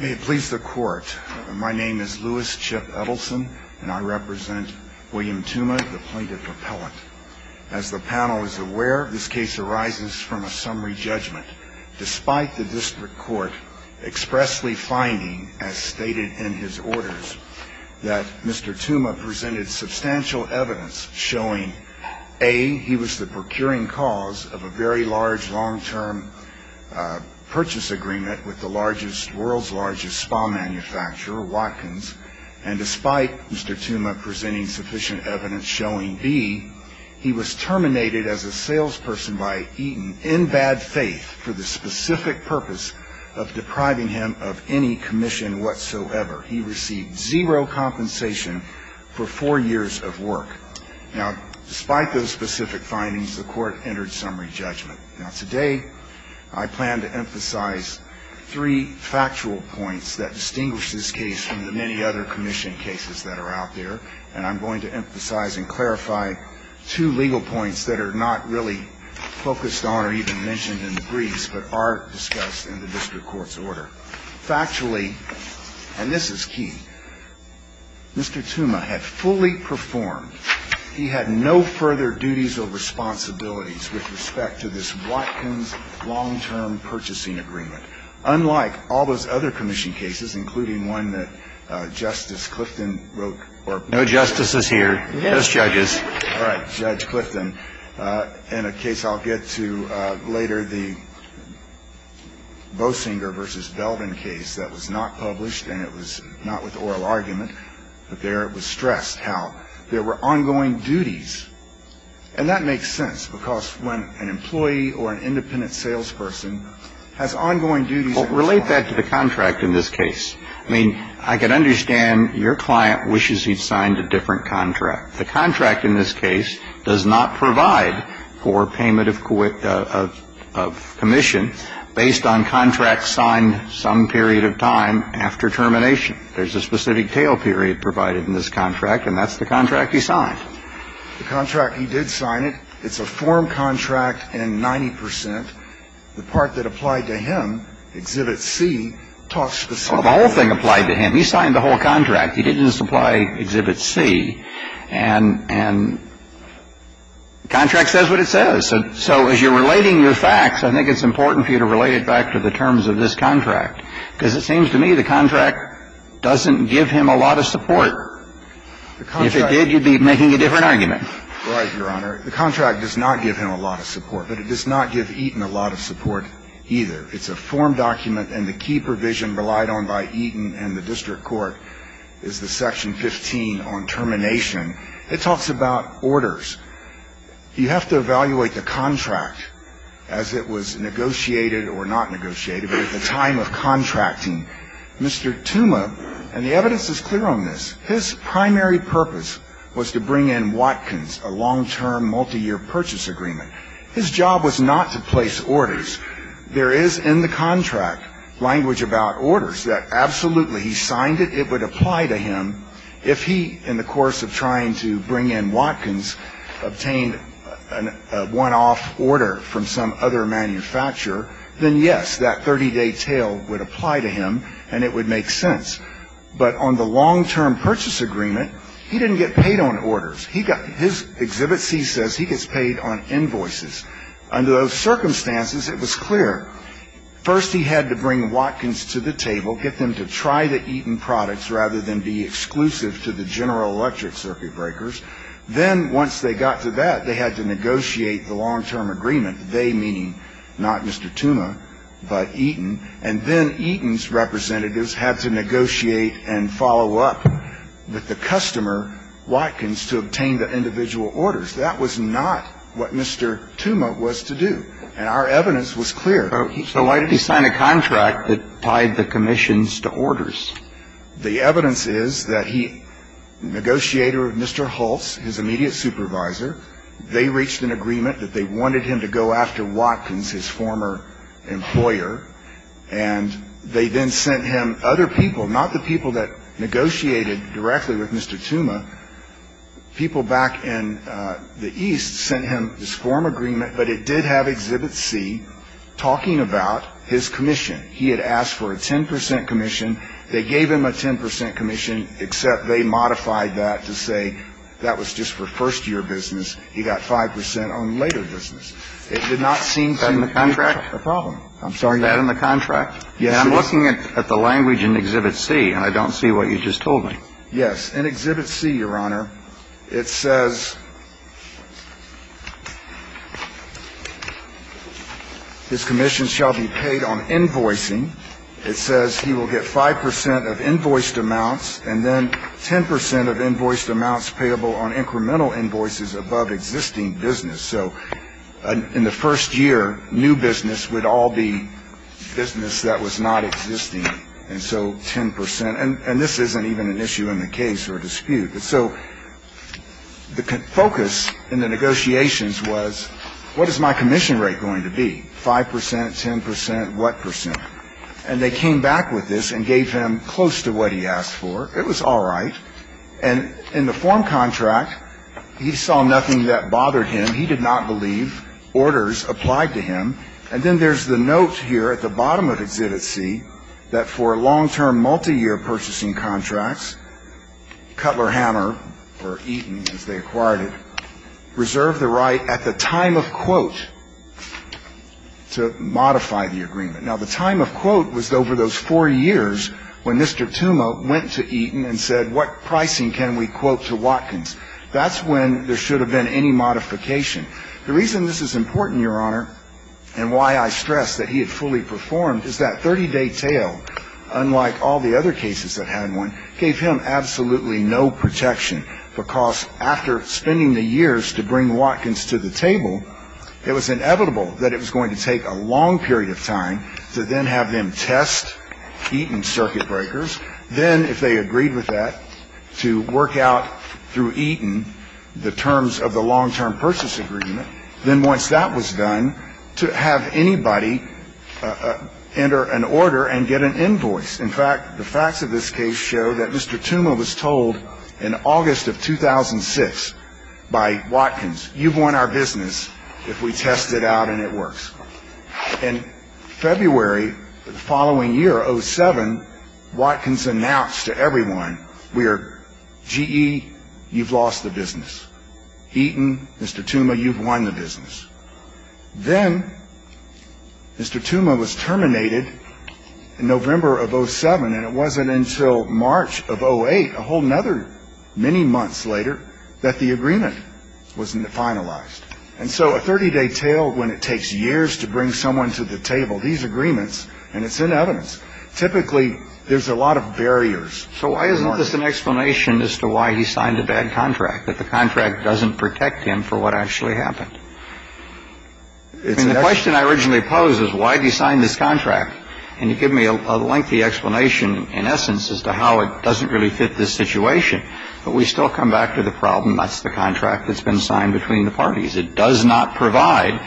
May it please the Court, my name is Lewis Chip Edelson, and I represent William Tuma, the plaintiff appellant. As the panel is aware, this case arises from a summary judgment. Despite the district court expressly finding, as stated in his orders, that Mr. Tuma presented substantial evidence showing, A, he was the procuring cause of a very large long-term purchase agreement with the world's largest spa manufacturer, Watkins, and despite Mr. Tuma presenting sufficient evidence showing, B, he was terminated as a salesperson by Eaton in bad faith for the specific purpose of depriving him of any commission whatsoever. He received zero compensation for four years of work. Now, despite those specific findings, the Court entered summary judgment. Now, today, I plan to emphasize three factual points that distinguish this case from the many other commission cases that are out there, and I'm going to emphasize and clarify two legal points that are not really focused on or even mentioned in the briefs but are discussed in the district court's order. Factually, and this is key, Mr. Tuma had fully performed. He had no further duties or responsibilities with respect to this Watkins long-term purchasing agreement, unlike all those other commission cases, including one that Justice Clifton wrote. No justices here. Just judges. All right. Judge Clifton. In a case I'll get to later, the Boesinger v. Belden case that was not published and it was not with oral argument, but there it was stressed how there were ongoing duties. And that makes sense because when an employee or an independent salesperson has ongoing duties Relate that to the contract in this case. I mean, I can understand your client wishes he'd signed a different contract. The contract in this case does not provide for payment of commission based on contracts period of time after termination. There's a specific tail period provided in this contract, and that's the contract he signed. The contract he did sign it. It's a form contract and 90 percent. The part that applied to him, Exhibit C, talks specifically. The whole thing applied to him. He signed the whole contract. He didn't just apply Exhibit C. And the contract says what it says. So as you're relating your facts, I think it's important for you to relate it back to the terms of this contract. Because it seems to me the contract doesn't give him a lot of support. If it did, you'd be making a different argument. Right, Your Honor. The contract does not give him a lot of support, but it does not give Eaton a lot of support either. It's a form document, and the key provision relied on by Eaton and the district court is the Section 15 on termination. It talks about orders. You have to evaluate the contract as it was negotiated or not negotiated, but at the time of contracting. Mr. Tuma, and the evidence is clear on this, his primary purpose was to bring in Watkins, a long-term multiyear purchase agreement. His job was not to place orders. There is in the contract language about orders that absolutely he signed it. It would apply to him if he, in the course of trying to bring in Watkins, obtained a one-off order from some other manufacturer. Then, yes, that 30-day tail would apply to him, and it would make sense. But on the long-term purchase agreement, he didn't get paid on orders. His Exhibit C says he gets paid on invoices. Under those circumstances, it was clear. First, he had to bring Watkins to the table, get them to try the Eaton products rather than be exclusive to the General Electric circuit breakers. Then, once they got to that, they had to negotiate the long-term agreement, they meaning not Mr. Tuma, but Eaton. And then Eaton's representatives had to negotiate and follow up with the customer, Watkins, to obtain the individual orders. That was not what Mr. Tuma was to do. And our evidence was clear. So why did he sign a contract that tied the commissions to orders? The evidence is that he negotiated with Mr. Hulse, his immediate supervisor. They reached an agreement that they wanted him to go after Watkins, his former employer. And they then sent him other people, not the people that negotiated directly with Mr. Tuma. People back in the East sent him this form agreement. But it did have Exhibit C talking about his commission. He had asked for a 10 percent commission. They gave him a 10 percent commission, except they modified that to say that was just for first-year business. He got 5 percent on later business. It did not seem to be a problem. I'm sorry. That in the contract? Yes, it is. I'm looking at the language in Exhibit C, and I don't see what you just told me. Yes. In Exhibit C, Your Honor, it says his commission shall be paid on invoicing. It says he will get 5 percent of invoiced amounts, and then 10 percent of invoiced amounts payable on incremental invoices above existing business. So in the first year, new business would all be business that was not existing, and so 10 percent. And this isn't even an issue in the case or dispute. So the focus in the negotiations was what is my commission rate going to be, 5 percent, 10 percent, what percent? And they came back with this and gave him close to what he asked for. It was all right. And in the form contract, he saw nothing that bothered him. He did not believe orders applied to him. And then there's the note here at the bottom of Exhibit C that for long-term, multiyear purchasing contracts, Cutler Hammer or Eaton, as they acquired it, reserved the right at the time of quote to modify the agreement. Now, the time of quote was over those four years when Mr. Tuma went to Eaton and said, what pricing can we quote to Watkins? That's when there should have been any modification. The reason this is important, Your Honor, and why I stress that he had fully performed, is that 30-day tail, unlike all the other cases that had one, gave him absolutely no protection, because after spending the years to bring Watkins to the table, it was inevitable that it was going to take a long period of time to then have them test Eaton circuit breakers, then if they agreed with that, to work out through Eaton the terms of the long-term purchase agreement, then once that was done, to have anybody enter an order and get an invoice. In fact, the facts of this case show that Mr. Tuma was told in August of 2006 by Watkins, you've won our business if we test it out and it works. In February of the following year, 07, Watkins announced to everyone, GE, you've lost the business. Eaton, Mr. Tuma, you've won the business. Then Mr. Tuma was terminated in November of 07, and it wasn't until March of 08, a whole other many months later, that the agreement was finalized. And so a 30-day tale, when it takes years to bring someone to the table, these agreements, and it's in evidence, typically there's a lot of barriers. So why isn't this an explanation as to why he signed a bad contract, that the contract doesn't protect him for what actually happened? The question I originally posed is, why did he sign this contract? And you give me a lengthy explanation, in essence, as to how it doesn't really fit this situation, but we still come back to the problem, that's the contract that's been signed between the parties. It does not provide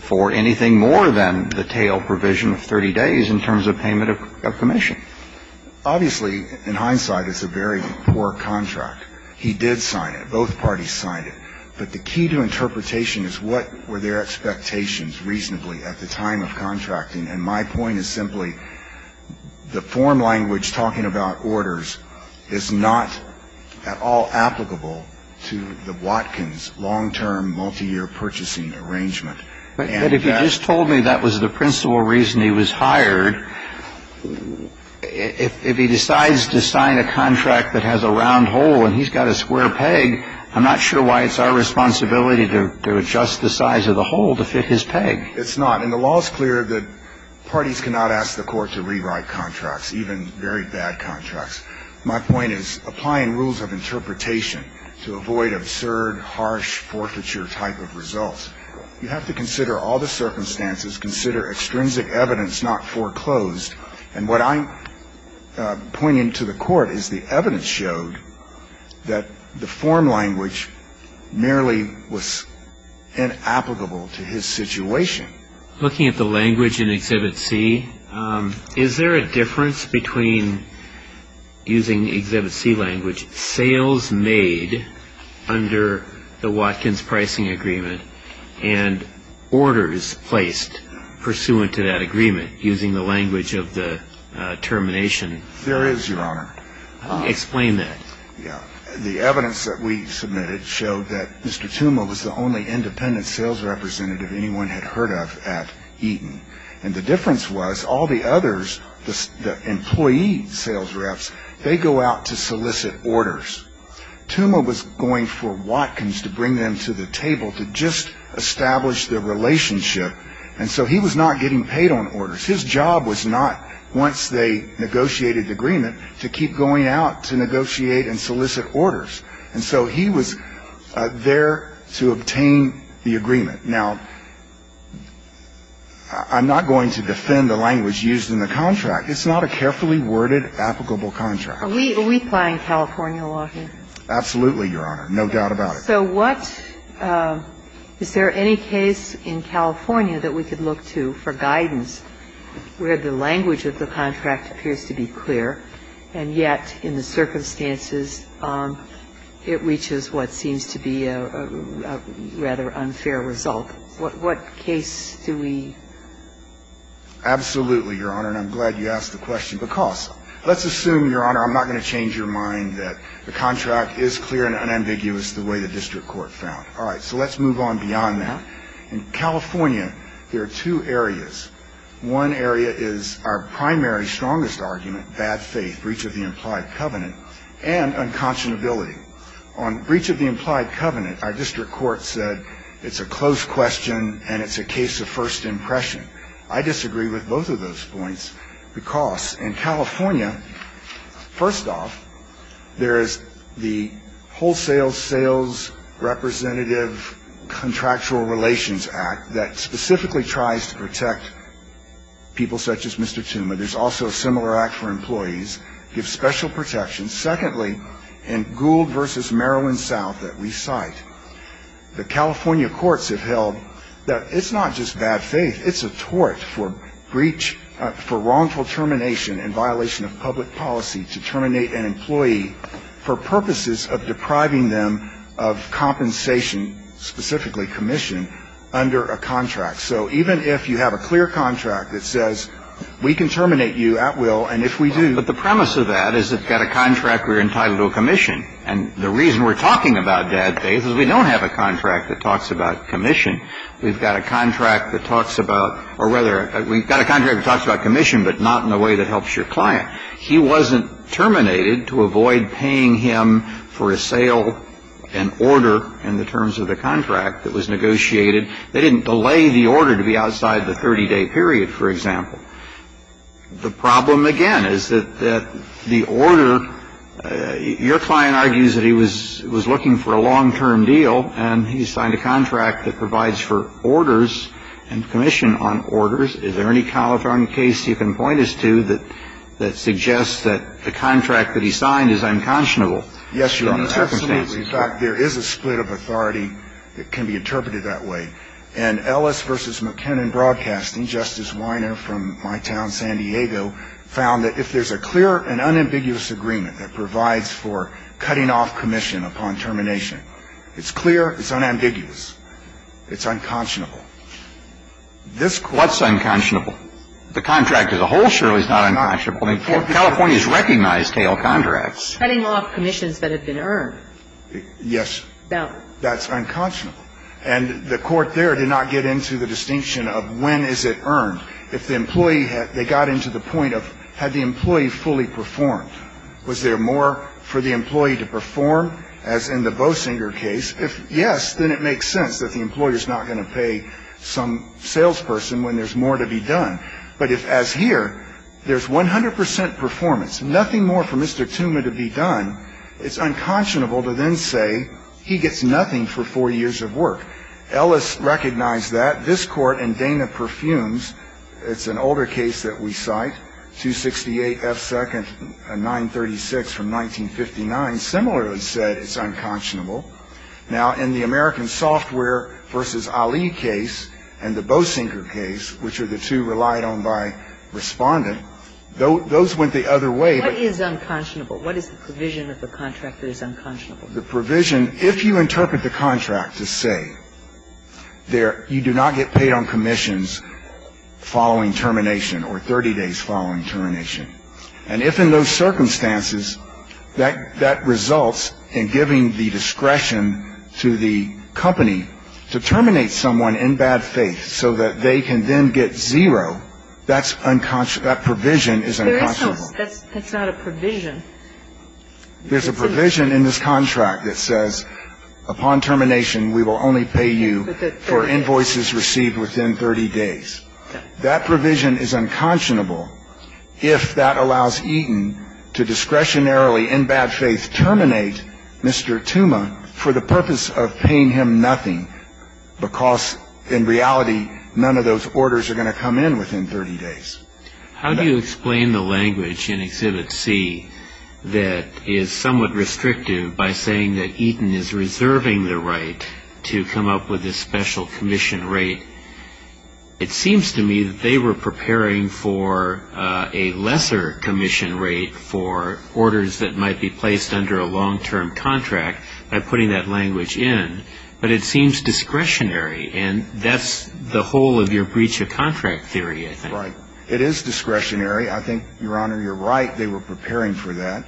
for anything more than the tale provision of 30 days in terms of payment of commission. Obviously, in hindsight, it's a very poor contract. He did sign it. Both parties signed it. But the key to interpretation is, what were their expectations reasonably at the time of contracting? So there was the expectation that there would be an arrangement to put in place for the long-term multi-year purchasing, and my point is simply, the form language talking about orders is not at all applicable to the Watkins long-term multi-year purchasing arrangement. But if you just told me that was the principal reason he was hired, if he decides to sign a contract that has a round hole and he's got a square peg, I'm not sure why it's our responsibility to adjust the size of the hole to fit his peg. It's not, and the law is clear that parties cannot ask the court to rewrite contracts, even very bad contracts. My point is, applying rules of interpretation to avoid absurd, harsh, forfeiture type of results, you have to consider all the circumstances, consider extrinsic evidence not foreclosed, and what I'm pointing to the court is the evidence showed that the form language merely was inapplicable to his situation. Looking at the language in Exhibit C, is there a difference between using Exhibit C language, sales made under the Watkins pricing agreement, and orders placed pursuant to that agreement, using the language of the termination? There is, Your Honor. Explain that. The evidence that we submitted showed that Mr. Tuma was the only independent sales representative anyone had heard of at Eaton, and the difference was all the others, the employee sales reps, they go out to solicit orders. Tuma was going for Watkins to bring them to the table to just establish their relationship, His job was not, once they negotiated the agreement, to keep going out to negotiate and solicit orders. And so he was there to obtain the agreement. Now, I'm not going to defend the language used in the contract. It's not a carefully worded, applicable contract. Are we applying California law here? Absolutely, Your Honor. No doubt about it. So what, is there any case in California that we could look to for guidance where the language of the contract appears to be clear, and yet in the circumstances it reaches what seems to be a rather unfair result? What case do we? Absolutely, Your Honor, and I'm glad you asked the question, because let's assume, Your Honor, I'm not going to change your mind that the contract is clear and unambiguous the way the district court found. All right, so let's move on beyond that. In California, there are two areas. One area is our primary, strongest argument, bad faith, breach of the implied covenant, and unconscionability. On breach of the implied covenant, our district court said it's a closed question and it's a case of first impression. I disagree with both of those points, because in California, first off, there is the Wholesale Sales Representative Contractual Relations Act that specifically tries to protect people such as Mr. Tuma. There's also a similar act for employees. It gives special protection. Secondly, in Gould v. Maryland South that we cite, the California courts have held that it's not just bad faith. It's a tort for breach, for wrongful termination in violation of public policy to terminate an employee for purposes of depriving them of compensation, specifically commission, under a contract. So even if you have a clear contract that says we can terminate you at will, and if we do. But the premise of that is it's got a contract we're entitled to a commission. And the reason we're talking about bad faith is we don't have a contract that talks about commission. We've got a contract that talks about or whether we've got a contract that talks about commission, but not in a way that helps your client. He wasn't terminated to avoid paying him for a sale and order in the terms of the contract that was negotiated. They didn't delay the order to be outside the 30-day period, for example. The problem, again, is that the order, your client argues that he was looking for a long-term deal, and he signed a contract that provides for orders and commission on orders. Is there any California case you can point us to that suggests that the contract that he signed is unconscionable? Yes, Your Honor. Absolutely. In fact, there is a split of authority that can be interpreted that way. And Ellis v. McKinnon Broadcasting, Justice Weiner from my town, San Diego, found that if there's a clear and unambiguous agreement that provides for cutting off commission upon termination, it's clear, it's unambiguous, it's unconscionable. What's unconscionable? The contract as a whole surely is not unconscionable. I mean, California's recognized tail contracts. Cutting off commissions that have been earned. Yes. That's unconscionable. And the Court there did not get into the distinction of when is it earned. If the employee had – they got into the point of had the employee fully performed, was there more for the employee to perform, as in the Boesinger case? If yes, then it makes sense that the employer's not going to pay some salesperson when there's more to be done. But if, as here, there's 100 percent performance, nothing more for Mr. Tooma to be done, it's unconscionable to then say he gets nothing for four years of work. Ellis recognized that. This Court in Dana-Perfumes, it's an older case that we cite, 268 F. 2, 936 from 1959, similarly said it's unconscionable. Now, in the American Software v. Ali case and the Boesinger case, which are the two relied on by Respondent, those went the other way. What is unconscionable? What is the provision of the contract that is unconscionable? The provision, if you interpret the contract to say you do not get paid on commissions following termination or 30 days following termination. And if in those circumstances that results in giving the discretion to the company to terminate someone in bad faith so that they can then get zero, that provision is unconscionable. That's not a provision. There's a provision in this contract that says, upon termination we will only pay you for invoices received within 30 days. That provision is unconscionable if that allows Eaton to discretionarily in bad faith terminate Mr. Tuma for the purpose of paying him nothing, because in reality none of those orders are going to come in within 30 days. How do you explain the language in Exhibit C that is somewhat restrictive by saying that Eaton is reserving the right to come up with this special commission rate? It seems to me that they were preparing for a lesser commission rate for orders that might be placed under a long-term contract by putting that language in, but it seems discretionary, and that's the whole of your breach of contract theory, I think. Right. It is discretionary. I think, Your Honor, you're right. They were preparing for that.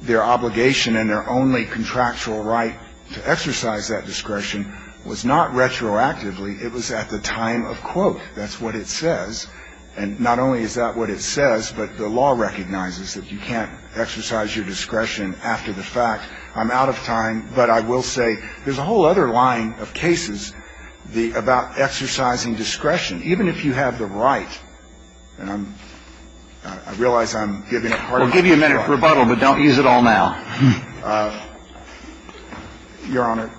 Their obligation and their only contractual right to exercise that discretion was not retroactively. It was at the time of quote. That's what it says. And not only is that what it says, but the law recognizes that you can't exercise your discretion after the fact. I'm out of time, but I will say there's a whole other line of cases about exercising discretion. Even if you have the right, and I realize I'm giving a part of my time. We'll give you a minute for rebuttal, but don't use it all now. Your Honor,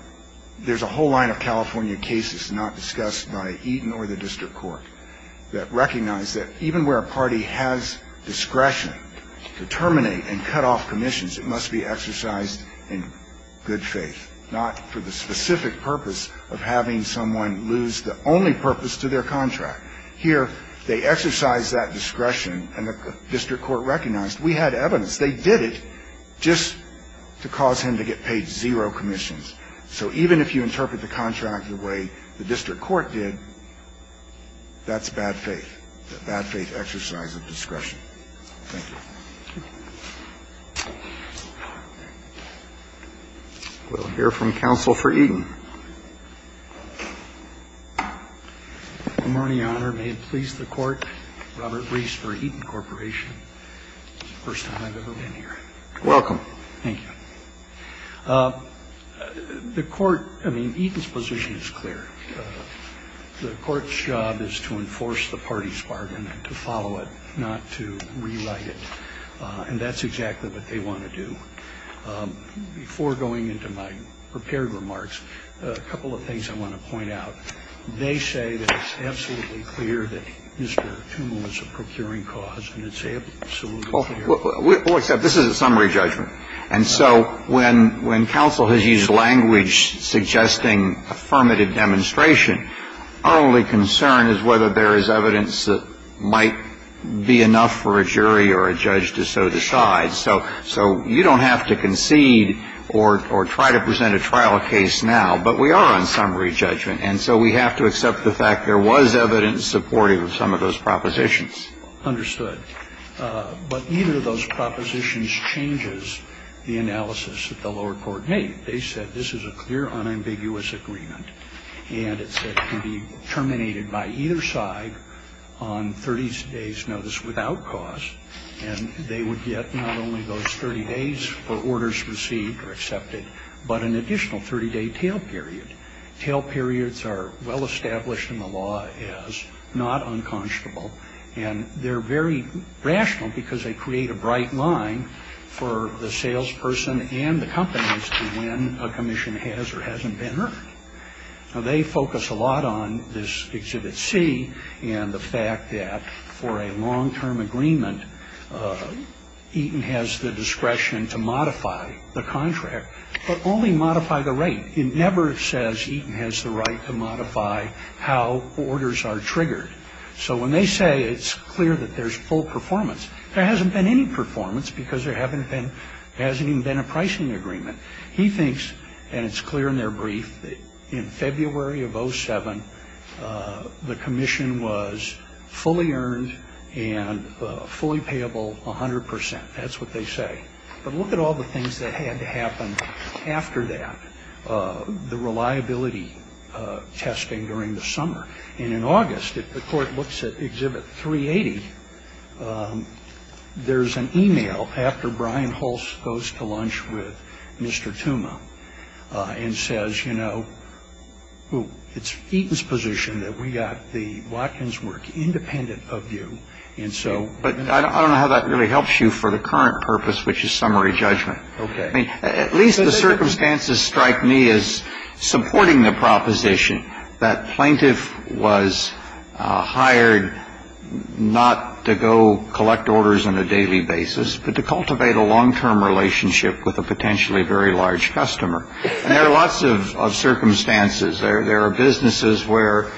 there's a whole line of California cases not discussed by Eaton or the district court that recognize that even where a party has discretion to terminate and cut off commissions, it must be exercised in good faith, not for the specific purpose of having someone lose the only purpose to their contract. Here, they exercise that discretion, and the district court recognized we had evidence. They did it just to cause him to get paid zero commissions. So even if you interpret the contract the way the district court did, that's bad faith, that bad faith exercise of discretion. Thank you. We'll hear from counsel for Eaton. Good morning, Your Honor. May it please the Court. Robert Reese for Eaton Corporation. First time I've ever been here. You're welcome. Thank you. The Court, I mean, Eaton's position is clear. The Court's job is to enforce the party's bargain and to follow it, not to rewrite it, and that's exactly what they want to do. Before going into my prepared remarks, a couple of things I want to point out. They say that it's absolutely clear that Mr. Toomey was a procuring cause, and it's absolutely clear. Well, except this is a summary judgment. And so when counsel has used language suggesting affirmative demonstration, our only concern is whether there is evidence that might be enough for a jury or a judge to so decide. So you don't have to concede or try to present a trial case now. But we are on summary judgment. And so we have to accept the fact there was evidence supportive of some of those propositions. Understood. But neither of those propositions changes the analysis that the lower court made. They said this is a clear, unambiguous agreement. And it said it can be terminated by either side on 30 days' notice without cause. And they would get not only those 30 days for orders received or accepted, but an additional 30-day tail period. Tail periods are well established in the law as not unconscionable. And they're very rational because they create a bright line for the salesperson and the companies to when a commission has or hasn't been heard. Now, they focus a lot on this Exhibit C and the fact that for a long-term agreement, Eaton has the discretion to modify the contract, but only modify the rate. It never says Eaton has the right to modify how orders are triggered. So when they say it's clear that there's full performance, there hasn't been any performance because there hasn't even been a pricing agreement. He thinks, and it's clear in their brief, that in February of 07, the commission was fully earned and fully payable 100 percent. That's what they say. But look at all the things that had to happen after that, the reliability testing during the summer. And in August, if the court looks at Exhibit 380, there's an e-mail after Brian Hulse goes to lunch with Mr. Tuma and says, you know, it's Eaton's position that we got the Watkins work independent of you. And so we're going to have to do that. But I don't know how that really helps you for the current purpose, which is summary judgment. Okay. I mean, at least the circumstances strike me as supporting the proposition that plaintiff was hired not to go collect orders on a daily basis, but to cultivate a long-term relationship with a potentially very large customer. And there are lots of circumstances. There are businesses where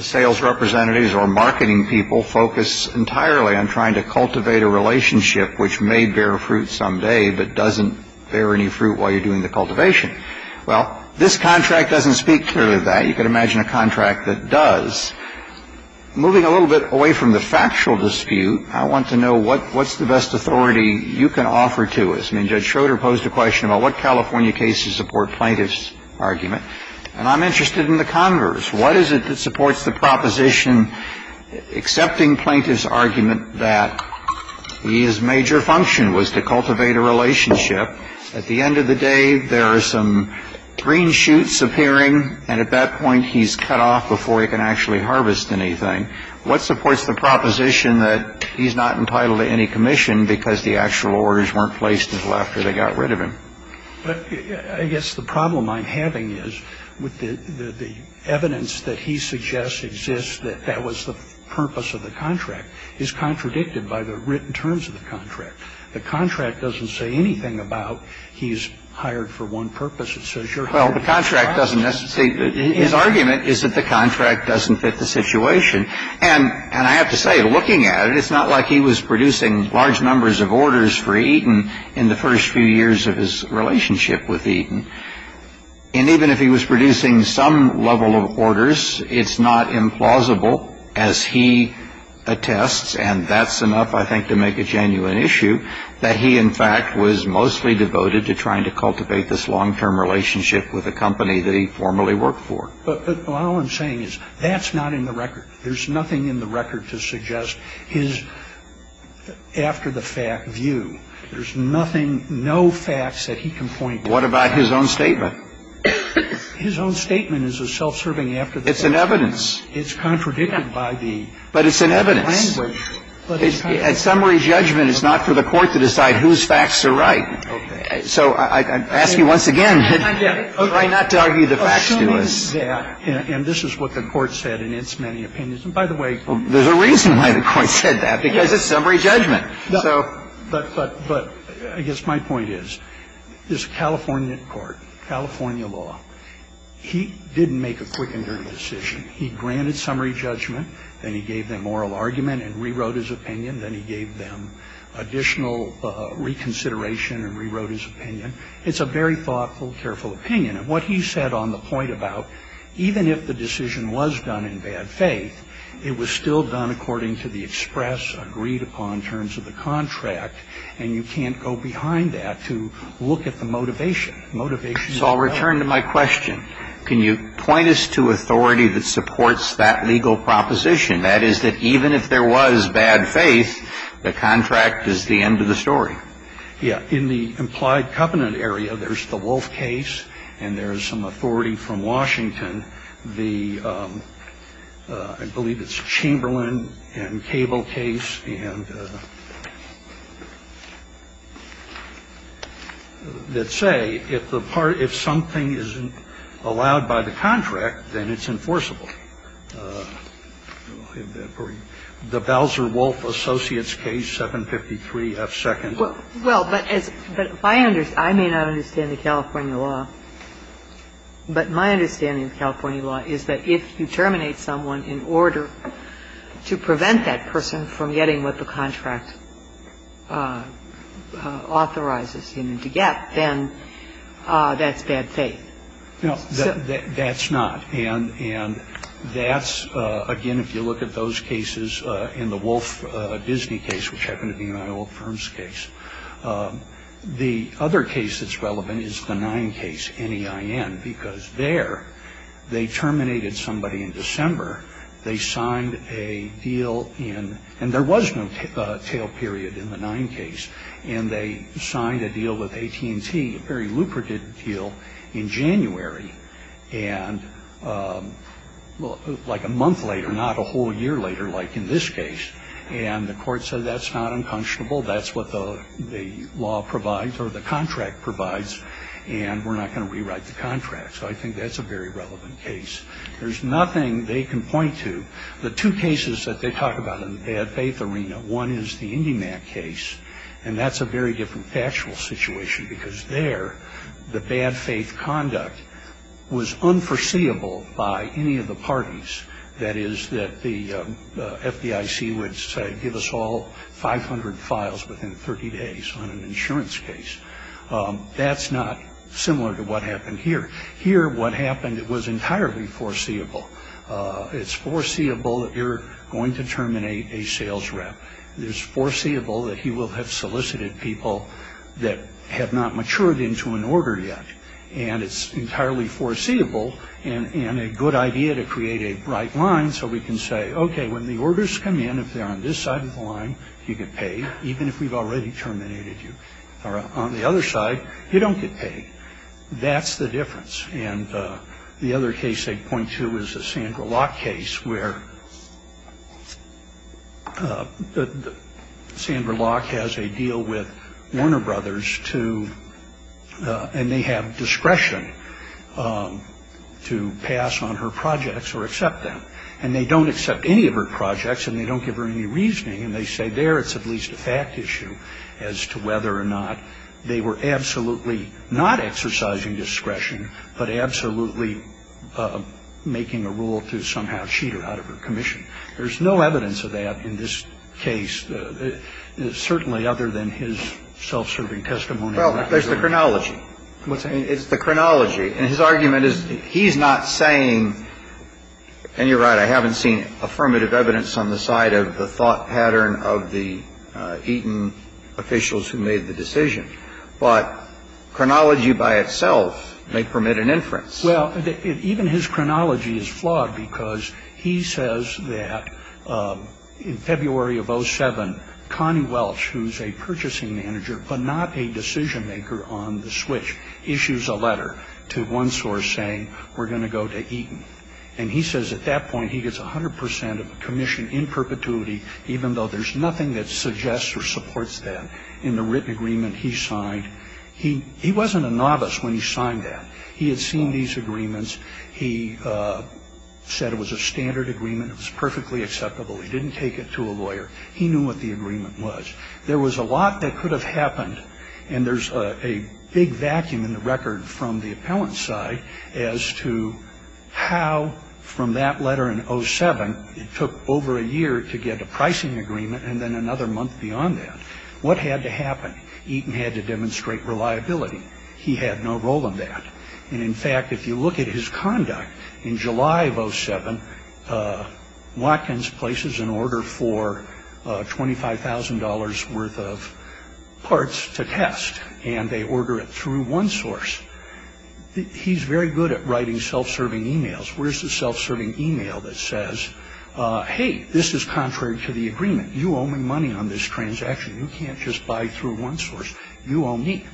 sales representatives or marketing people focus entirely on trying to cultivate a relationship which may bear fruit someday, but doesn't bear any fruit while you're doing the cultivation. Well, this contract doesn't speak clearly to that. You can imagine a contract that does. Moving a little bit away from the factual dispute, I want to know what's the best authority you can offer to us. I mean, Judge Schroeder posed a question about what California cases support plaintiff's argument. And I'm interested in the converse. What is it that supports the proposition accepting plaintiff's argument that his major function was to cultivate a relationship? At the end of the day, there are some green shoots appearing, and at that point, he's cut off before he can actually harvest anything. What supports the proposition that he's not entitled to any commission because the actual orders weren't placed until after they got rid of him? Well, I guess the problem I'm having is with the evidence that he suggests exists that that was the purpose of the contract is contradicted by the written terms of the contract. The contract doesn't say anything about he's hired for one purpose. It says you're hired for the contract. Well, the contract doesn't necessarily – his argument is that the contract doesn't fit the situation. And I have to say, looking at it, it's not like he was producing large numbers of orders for Eaton in the first few years of his relationship with Eaton. And even if he was producing some level of orders, it's not implausible, as he attests, and that's enough, I think, to make a genuine issue that he, in fact, was mostly devoted to trying to cultivate this long-term relationship with a company that he formerly worked for. But all I'm saying is that's not in the record. There's nothing in the record to suggest his after-the-fact view. There's nothing, no facts that he can point to. What about his own statement? His own statement is a self-serving after-the-fact view. It's an evidence. It's contradicted by the language. But it's an evidence. At summary judgment, it's not for the Court to decide whose facts are right. So I ask you once again, try not to argue the facts to us. And this is what the Court said in its many opinions. And by the way – There's a reason why the Court said that, because it's summary judgment. But I guess my point is, this California court, California law, he didn't make a quick and dirty decision. He granted summary judgment. Then he gave them oral argument and rewrote his opinion. Then he gave them additional reconsideration and rewrote his opinion. It's a very thoughtful, careful opinion. And what he said on the point about, even if the decision was done in bad faith, it was still done according to the express agreed-upon terms of the contract, and you can't go behind that to look at the motivation. Motivation. So I'll return to my question. Can you point us to authority that supports that legal proposition? That is, that even if there was bad faith, the contract is the end of the story. Yeah. In the implied covenant area, there's the Wolf case and there's some authority from Washington, the – I believe it's Chamberlain and Cable case and – that would say if the part – if something isn't allowed by the contract, then it's enforceable. The Bowser-Wolf Associates case, 753F2nd. Well, but as – but if I understand – I may not understand the California law, but my understanding of California law is that if you terminate someone in order to prevent that person from getting what the contract authorizes him to get, then that's bad faith. No, that's not. And that's – again, if you look at those cases in the Wolf-Disney case, which happened to be my old firm's case. The other case that's relevant is the Nine case, N-E-I-N, because there they terminated somebody in December. They signed a deal in – and there was no tail period in the Nine case, and they signed a deal with AT&T, a very lucrative deal, in January. And like a month later, not a whole year later like in this case, and the court said that's not unconscionable, that's what the law provides or the contract provides, and we're not going to rewrite the contract. So I think that's a very relevant case. There's nothing they can point to. The two cases that they talk about in the bad faith arena, one is the IndyMac case, and that's a very different factual situation because there the bad faith conduct was unforeseeable by any of the parties. That is, that the FDIC would say, give us all 500 files within 30 days on an insurance case. That's not similar to what happened here. Here what happened was entirely foreseeable. It's foreseeable that you're going to terminate a sales rep. It's foreseeable that he will have solicited people that have not matured into an order yet, and it's entirely foreseeable and a good idea to create a bright line so we can say, okay, when the orders come in, if they're on this side of the line, you get paid, even if we've already terminated you. On the other side, you don't get paid. That's the difference. And the other case they point to is the Sandra Locke case where Sandra Locke has a deal with Warner Brothers to, and they have discretion to pass on her projects or accept them. And they don't accept any of her projects, and they don't give her any reasoning, and they say there it's at least a fact issue as to whether or not they were absolutely not exercising discretion but absolutely making a rule to somehow cheat her out of her commission. There's no evidence of that in this case, certainly other than his self-serving testimony. Well, there's the chronology. What's that? It's the chronology. And his argument is he's not saying, and you're right, I haven't seen affirmative evidence on the side of the thought pattern of the Eaton officials who made the decision. But chronology by itself may permit an inference. Well, even his chronology is flawed because he says that in February of 07, Connie Welch, who's a purchasing manager but not a decision maker on the switch, issues a letter to one source saying we're going to go to Eaton. And he says at that point he gets 100 percent of the commission in perpetuity even though there's nothing that suggests or supports that in the written agreement he signed. He wasn't a novice when he signed that. He had seen these agreements. He said it was a standard agreement. It was perfectly acceptable. He didn't take it to a lawyer. He knew what the agreement was. There was a lot that could have happened, and there's a big vacuum in the record from the appellant's side as to how from that letter in 07 it took over a year to get a pricing agreement and then another month beyond that. What had to happen? Eaton had to demonstrate reliability. He had no role in that. And, in fact, if you look at his conduct in July of 07, Watkins places an order for $25,000 worth of parts to test, and they order it through one source. He's very good at writing self-serving e-mails. Where's the self-serving e-mail that says, hey, this is contrary to the agreement. You owe me money on this transaction. You can't just buy through one source. You owe me.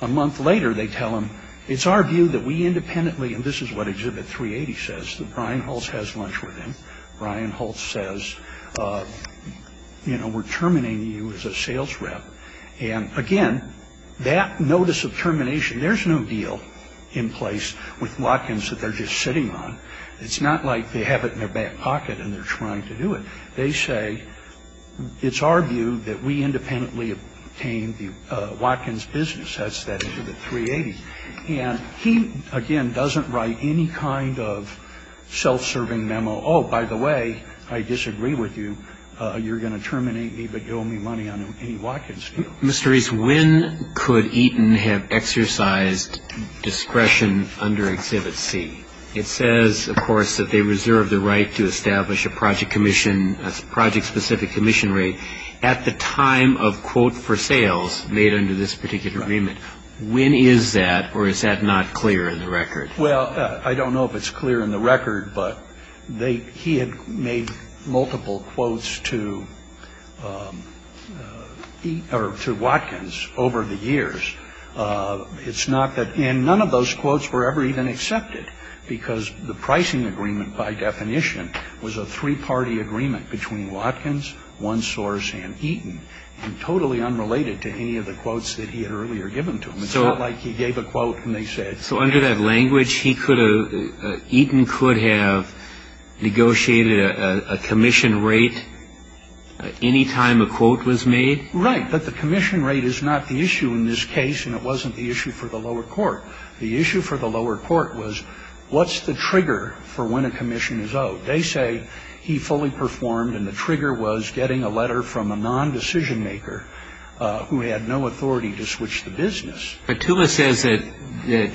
A month later they tell him, it's our view that we independently, and this is what Exhibit 380 says, that Brian Holtz has lunch with him. Brian Holtz says, you know, we're terminating you as a sales rep. And, again, that notice of termination, there's no deal in place with Watkins that they're just sitting on. It's not like they have it in their back pocket and they're trying to do it. They say, it's our view that we independently obtain the Watkins business. That's that Exhibit 380. And he, again, doesn't write any kind of self-serving memo. Oh, by the way, I disagree with you. You're going to terminate me, but you owe me money on any Watkins deal. Mr. Reese, when could Eaton have exercised discretion under Exhibit C? It says, of course, that they reserve the right to establish a project commission as a project-specific commission rate at the time of quote for sales made under this particular agreement. Right. When is that, or is that not clear in the record? Well, I don't know if it's clear in the record, but he had made multiple quotes to Watkins over the years. It's not that, and none of those quotes were ever even accepted, because the pricing agreement, by definition, was a three-party agreement between Watkins, One Source, and Eaton, and totally unrelated to any of the quotes that he had earlier given to them. It's not like he gave a quote and they said, So under that language, Eaton could have negotiated a commission rate any time a quote was made? Right, but the commission rate is not the issue in this case, and it wasn't the issue for the lower court. The issue for the lower court was, what's the trigger for when a commission is owed? They say he fully performed, and the trigger was getting a letter from a non-decision maker who had no authority to switch the business. But Tula says that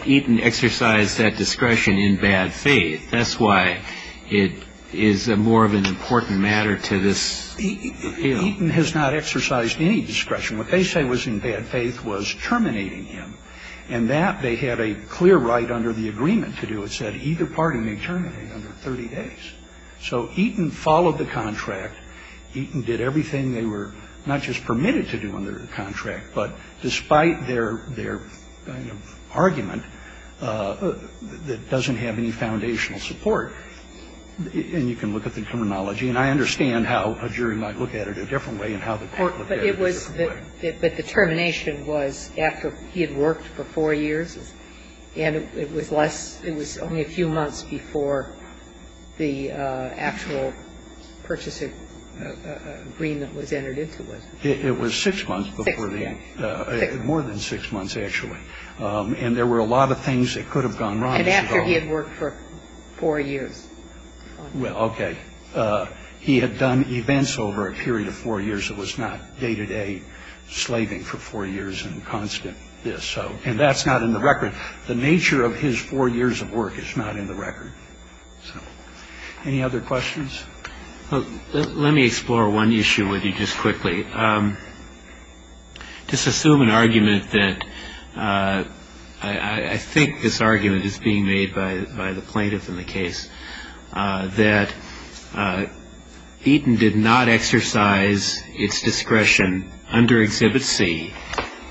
Eaton exercised that discretion in bad faith. That's why it is more of an important matter to this appeal. Eaton has not exercised any discretion. What they say was in bad faith was terminating him, and that they had a clear right under the agreement to do. It said either party may terminate under 30 days. So Eaton followed the contract. Eaton did everything they were not just permitted to do under the contract, but despite their kind of argument, it doesn't have any foundational support. And you can look at the terminology. And I understand how a jury might look at it a different way and how the court looked at it a different way. But the termination was after he had worked for four years, and it was less, it was only a few months before the actual purchasing agreement was entered into. It was six months before the end. More than six months, actually. And there were a lot of things that could have gone wrong. And after he had worked for four years. Well, okay. He had done events over a period of four years. It was not day-to-day slaving for four years and constant this. And that's not in the record. The nature of his four years of work is not in the record. Any other questions? Let me explore one issue with you just quickly. Just assume an argument that I think this argument is being made by the plaintiff in the case that Eaton did not exercise its discretion under Exhibit C,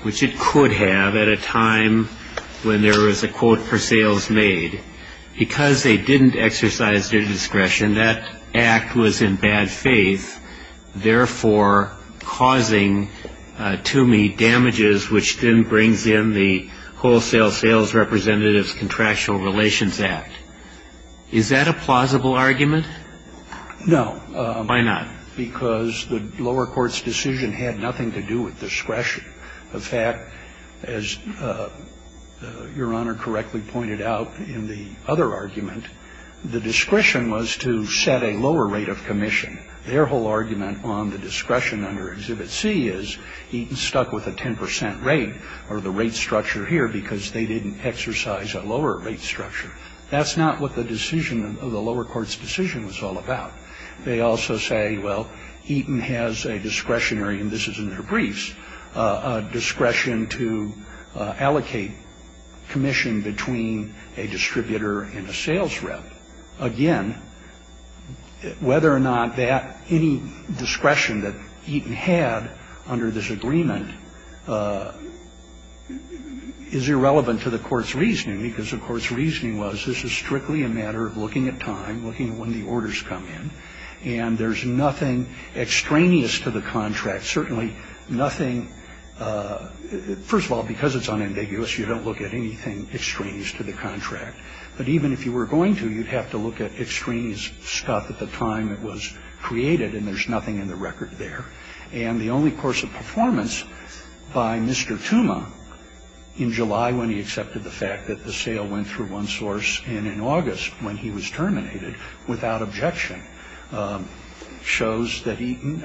which it could have at a time when there was a quote for sales made. Because they didn't exercise their discretion, that act was in bad faith, therefore causing to me damages, which then brings in the Wholesale Sales Representatives Contractual Relations Act. Is that a plausible argument? No. Why not? Because the lower court's decision had nothing to do with discretion. In fact, as Your Honor correctly pointed out in the other argument, the discretion was to set a lower rate of commission. Their whole argument on the discretion under Exhibit C is Eaton stuck with a 10 percent rate or the rate structure here because they didn't exercise a lower rate structure. That's not what the decision of the lower court's decision was all about. They also say, well, Eaton has a discretionary, and this is in their briefs, a discretion to allocate commission between a distributor and a sales rep. Again, whether or not that any discretion that Eaton had under this agreement is irrelevant to the court's reasoning because the court's reasoning was this is strictly a matter of looking at time, looking at when the orders come in, and there's nothing extraneous to the contract, certainly nothing. First of all, because it's unambiguous, you don't look at anything extraneous to the contract. But even if you were going to, you'd have to look at extraneous stuff at the time it was created, and there's nothing in the record there. And the only course of performance by Mr. Tuma in July when he accepted the fact that the sale went through one source and in August when he was terminated without objection shows that Eaton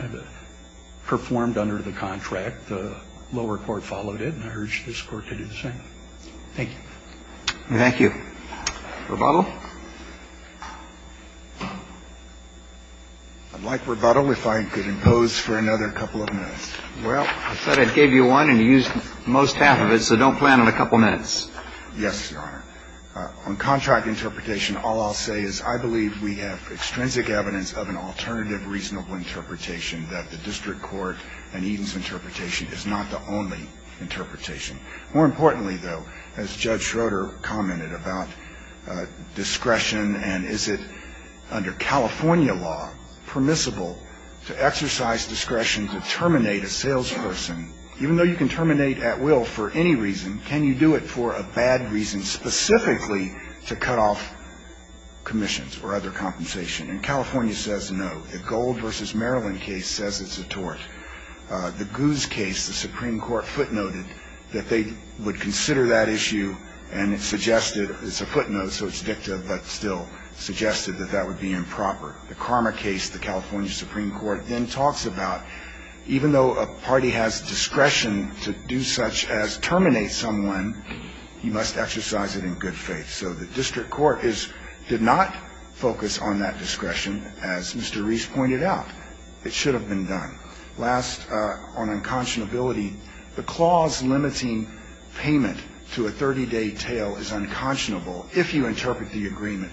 performed under the contract. The lower court followed it, and I urge this Court to do the same. Thank you. Roberts. Thank you. Rebuttal? I'd like rebuttal if I could impose for another couple of minutes. Well, I said I'd give you one, and you used most half of it, so don't plan on a couple minutes. Yes, Your Honor. On contract interpretation, all I'll say is I believe we have extrinsic evidence of an alternative reasonable interpretation that the district court and Eaton's interpretation is not the only interpretation. More importantly, though, as Judge Schroeder commented about discretion and is it under California law permissible to exercise discretion to terminate a salesperson? Even though you can terminate at will for any reason, can you do it for a bad reason, specifically to cut off commissions or other compensation? And California says no. The Gold v. Maryland case says it's a tort. The Goose case, the Supreme Court footnoted that they would consider that issue, and it suggested it's a footnote, so it's dicta, but still suggested that that would be improper. The Karma case, the California Supreme Court then talks about even though a party has discretion to do such as terminate someone, you must exercise it in good faith. So the district court did not focus on that discretion, as Mr. Reese pointed out. It should have been done. Last, on unconscionability, the clause limiting payment to a 30-day tail is unconscionable if you interpret the agreement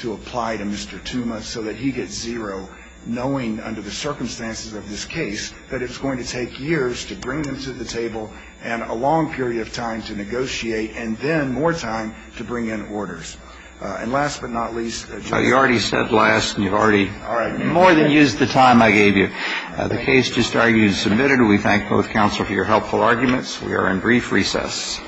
to apply to Mr. Tuma so that he gets zero, knowing under the circumstances of this case that it's going to take years to bring him to the table and a long period of time to negotiate and then more time to bring in orders. And last but not least, Judge Schroeder. You already said last and you've already more than used the time I gave you. The case just argued and submitted. We thank both counsel for your helpful arguments. We are in brief recess.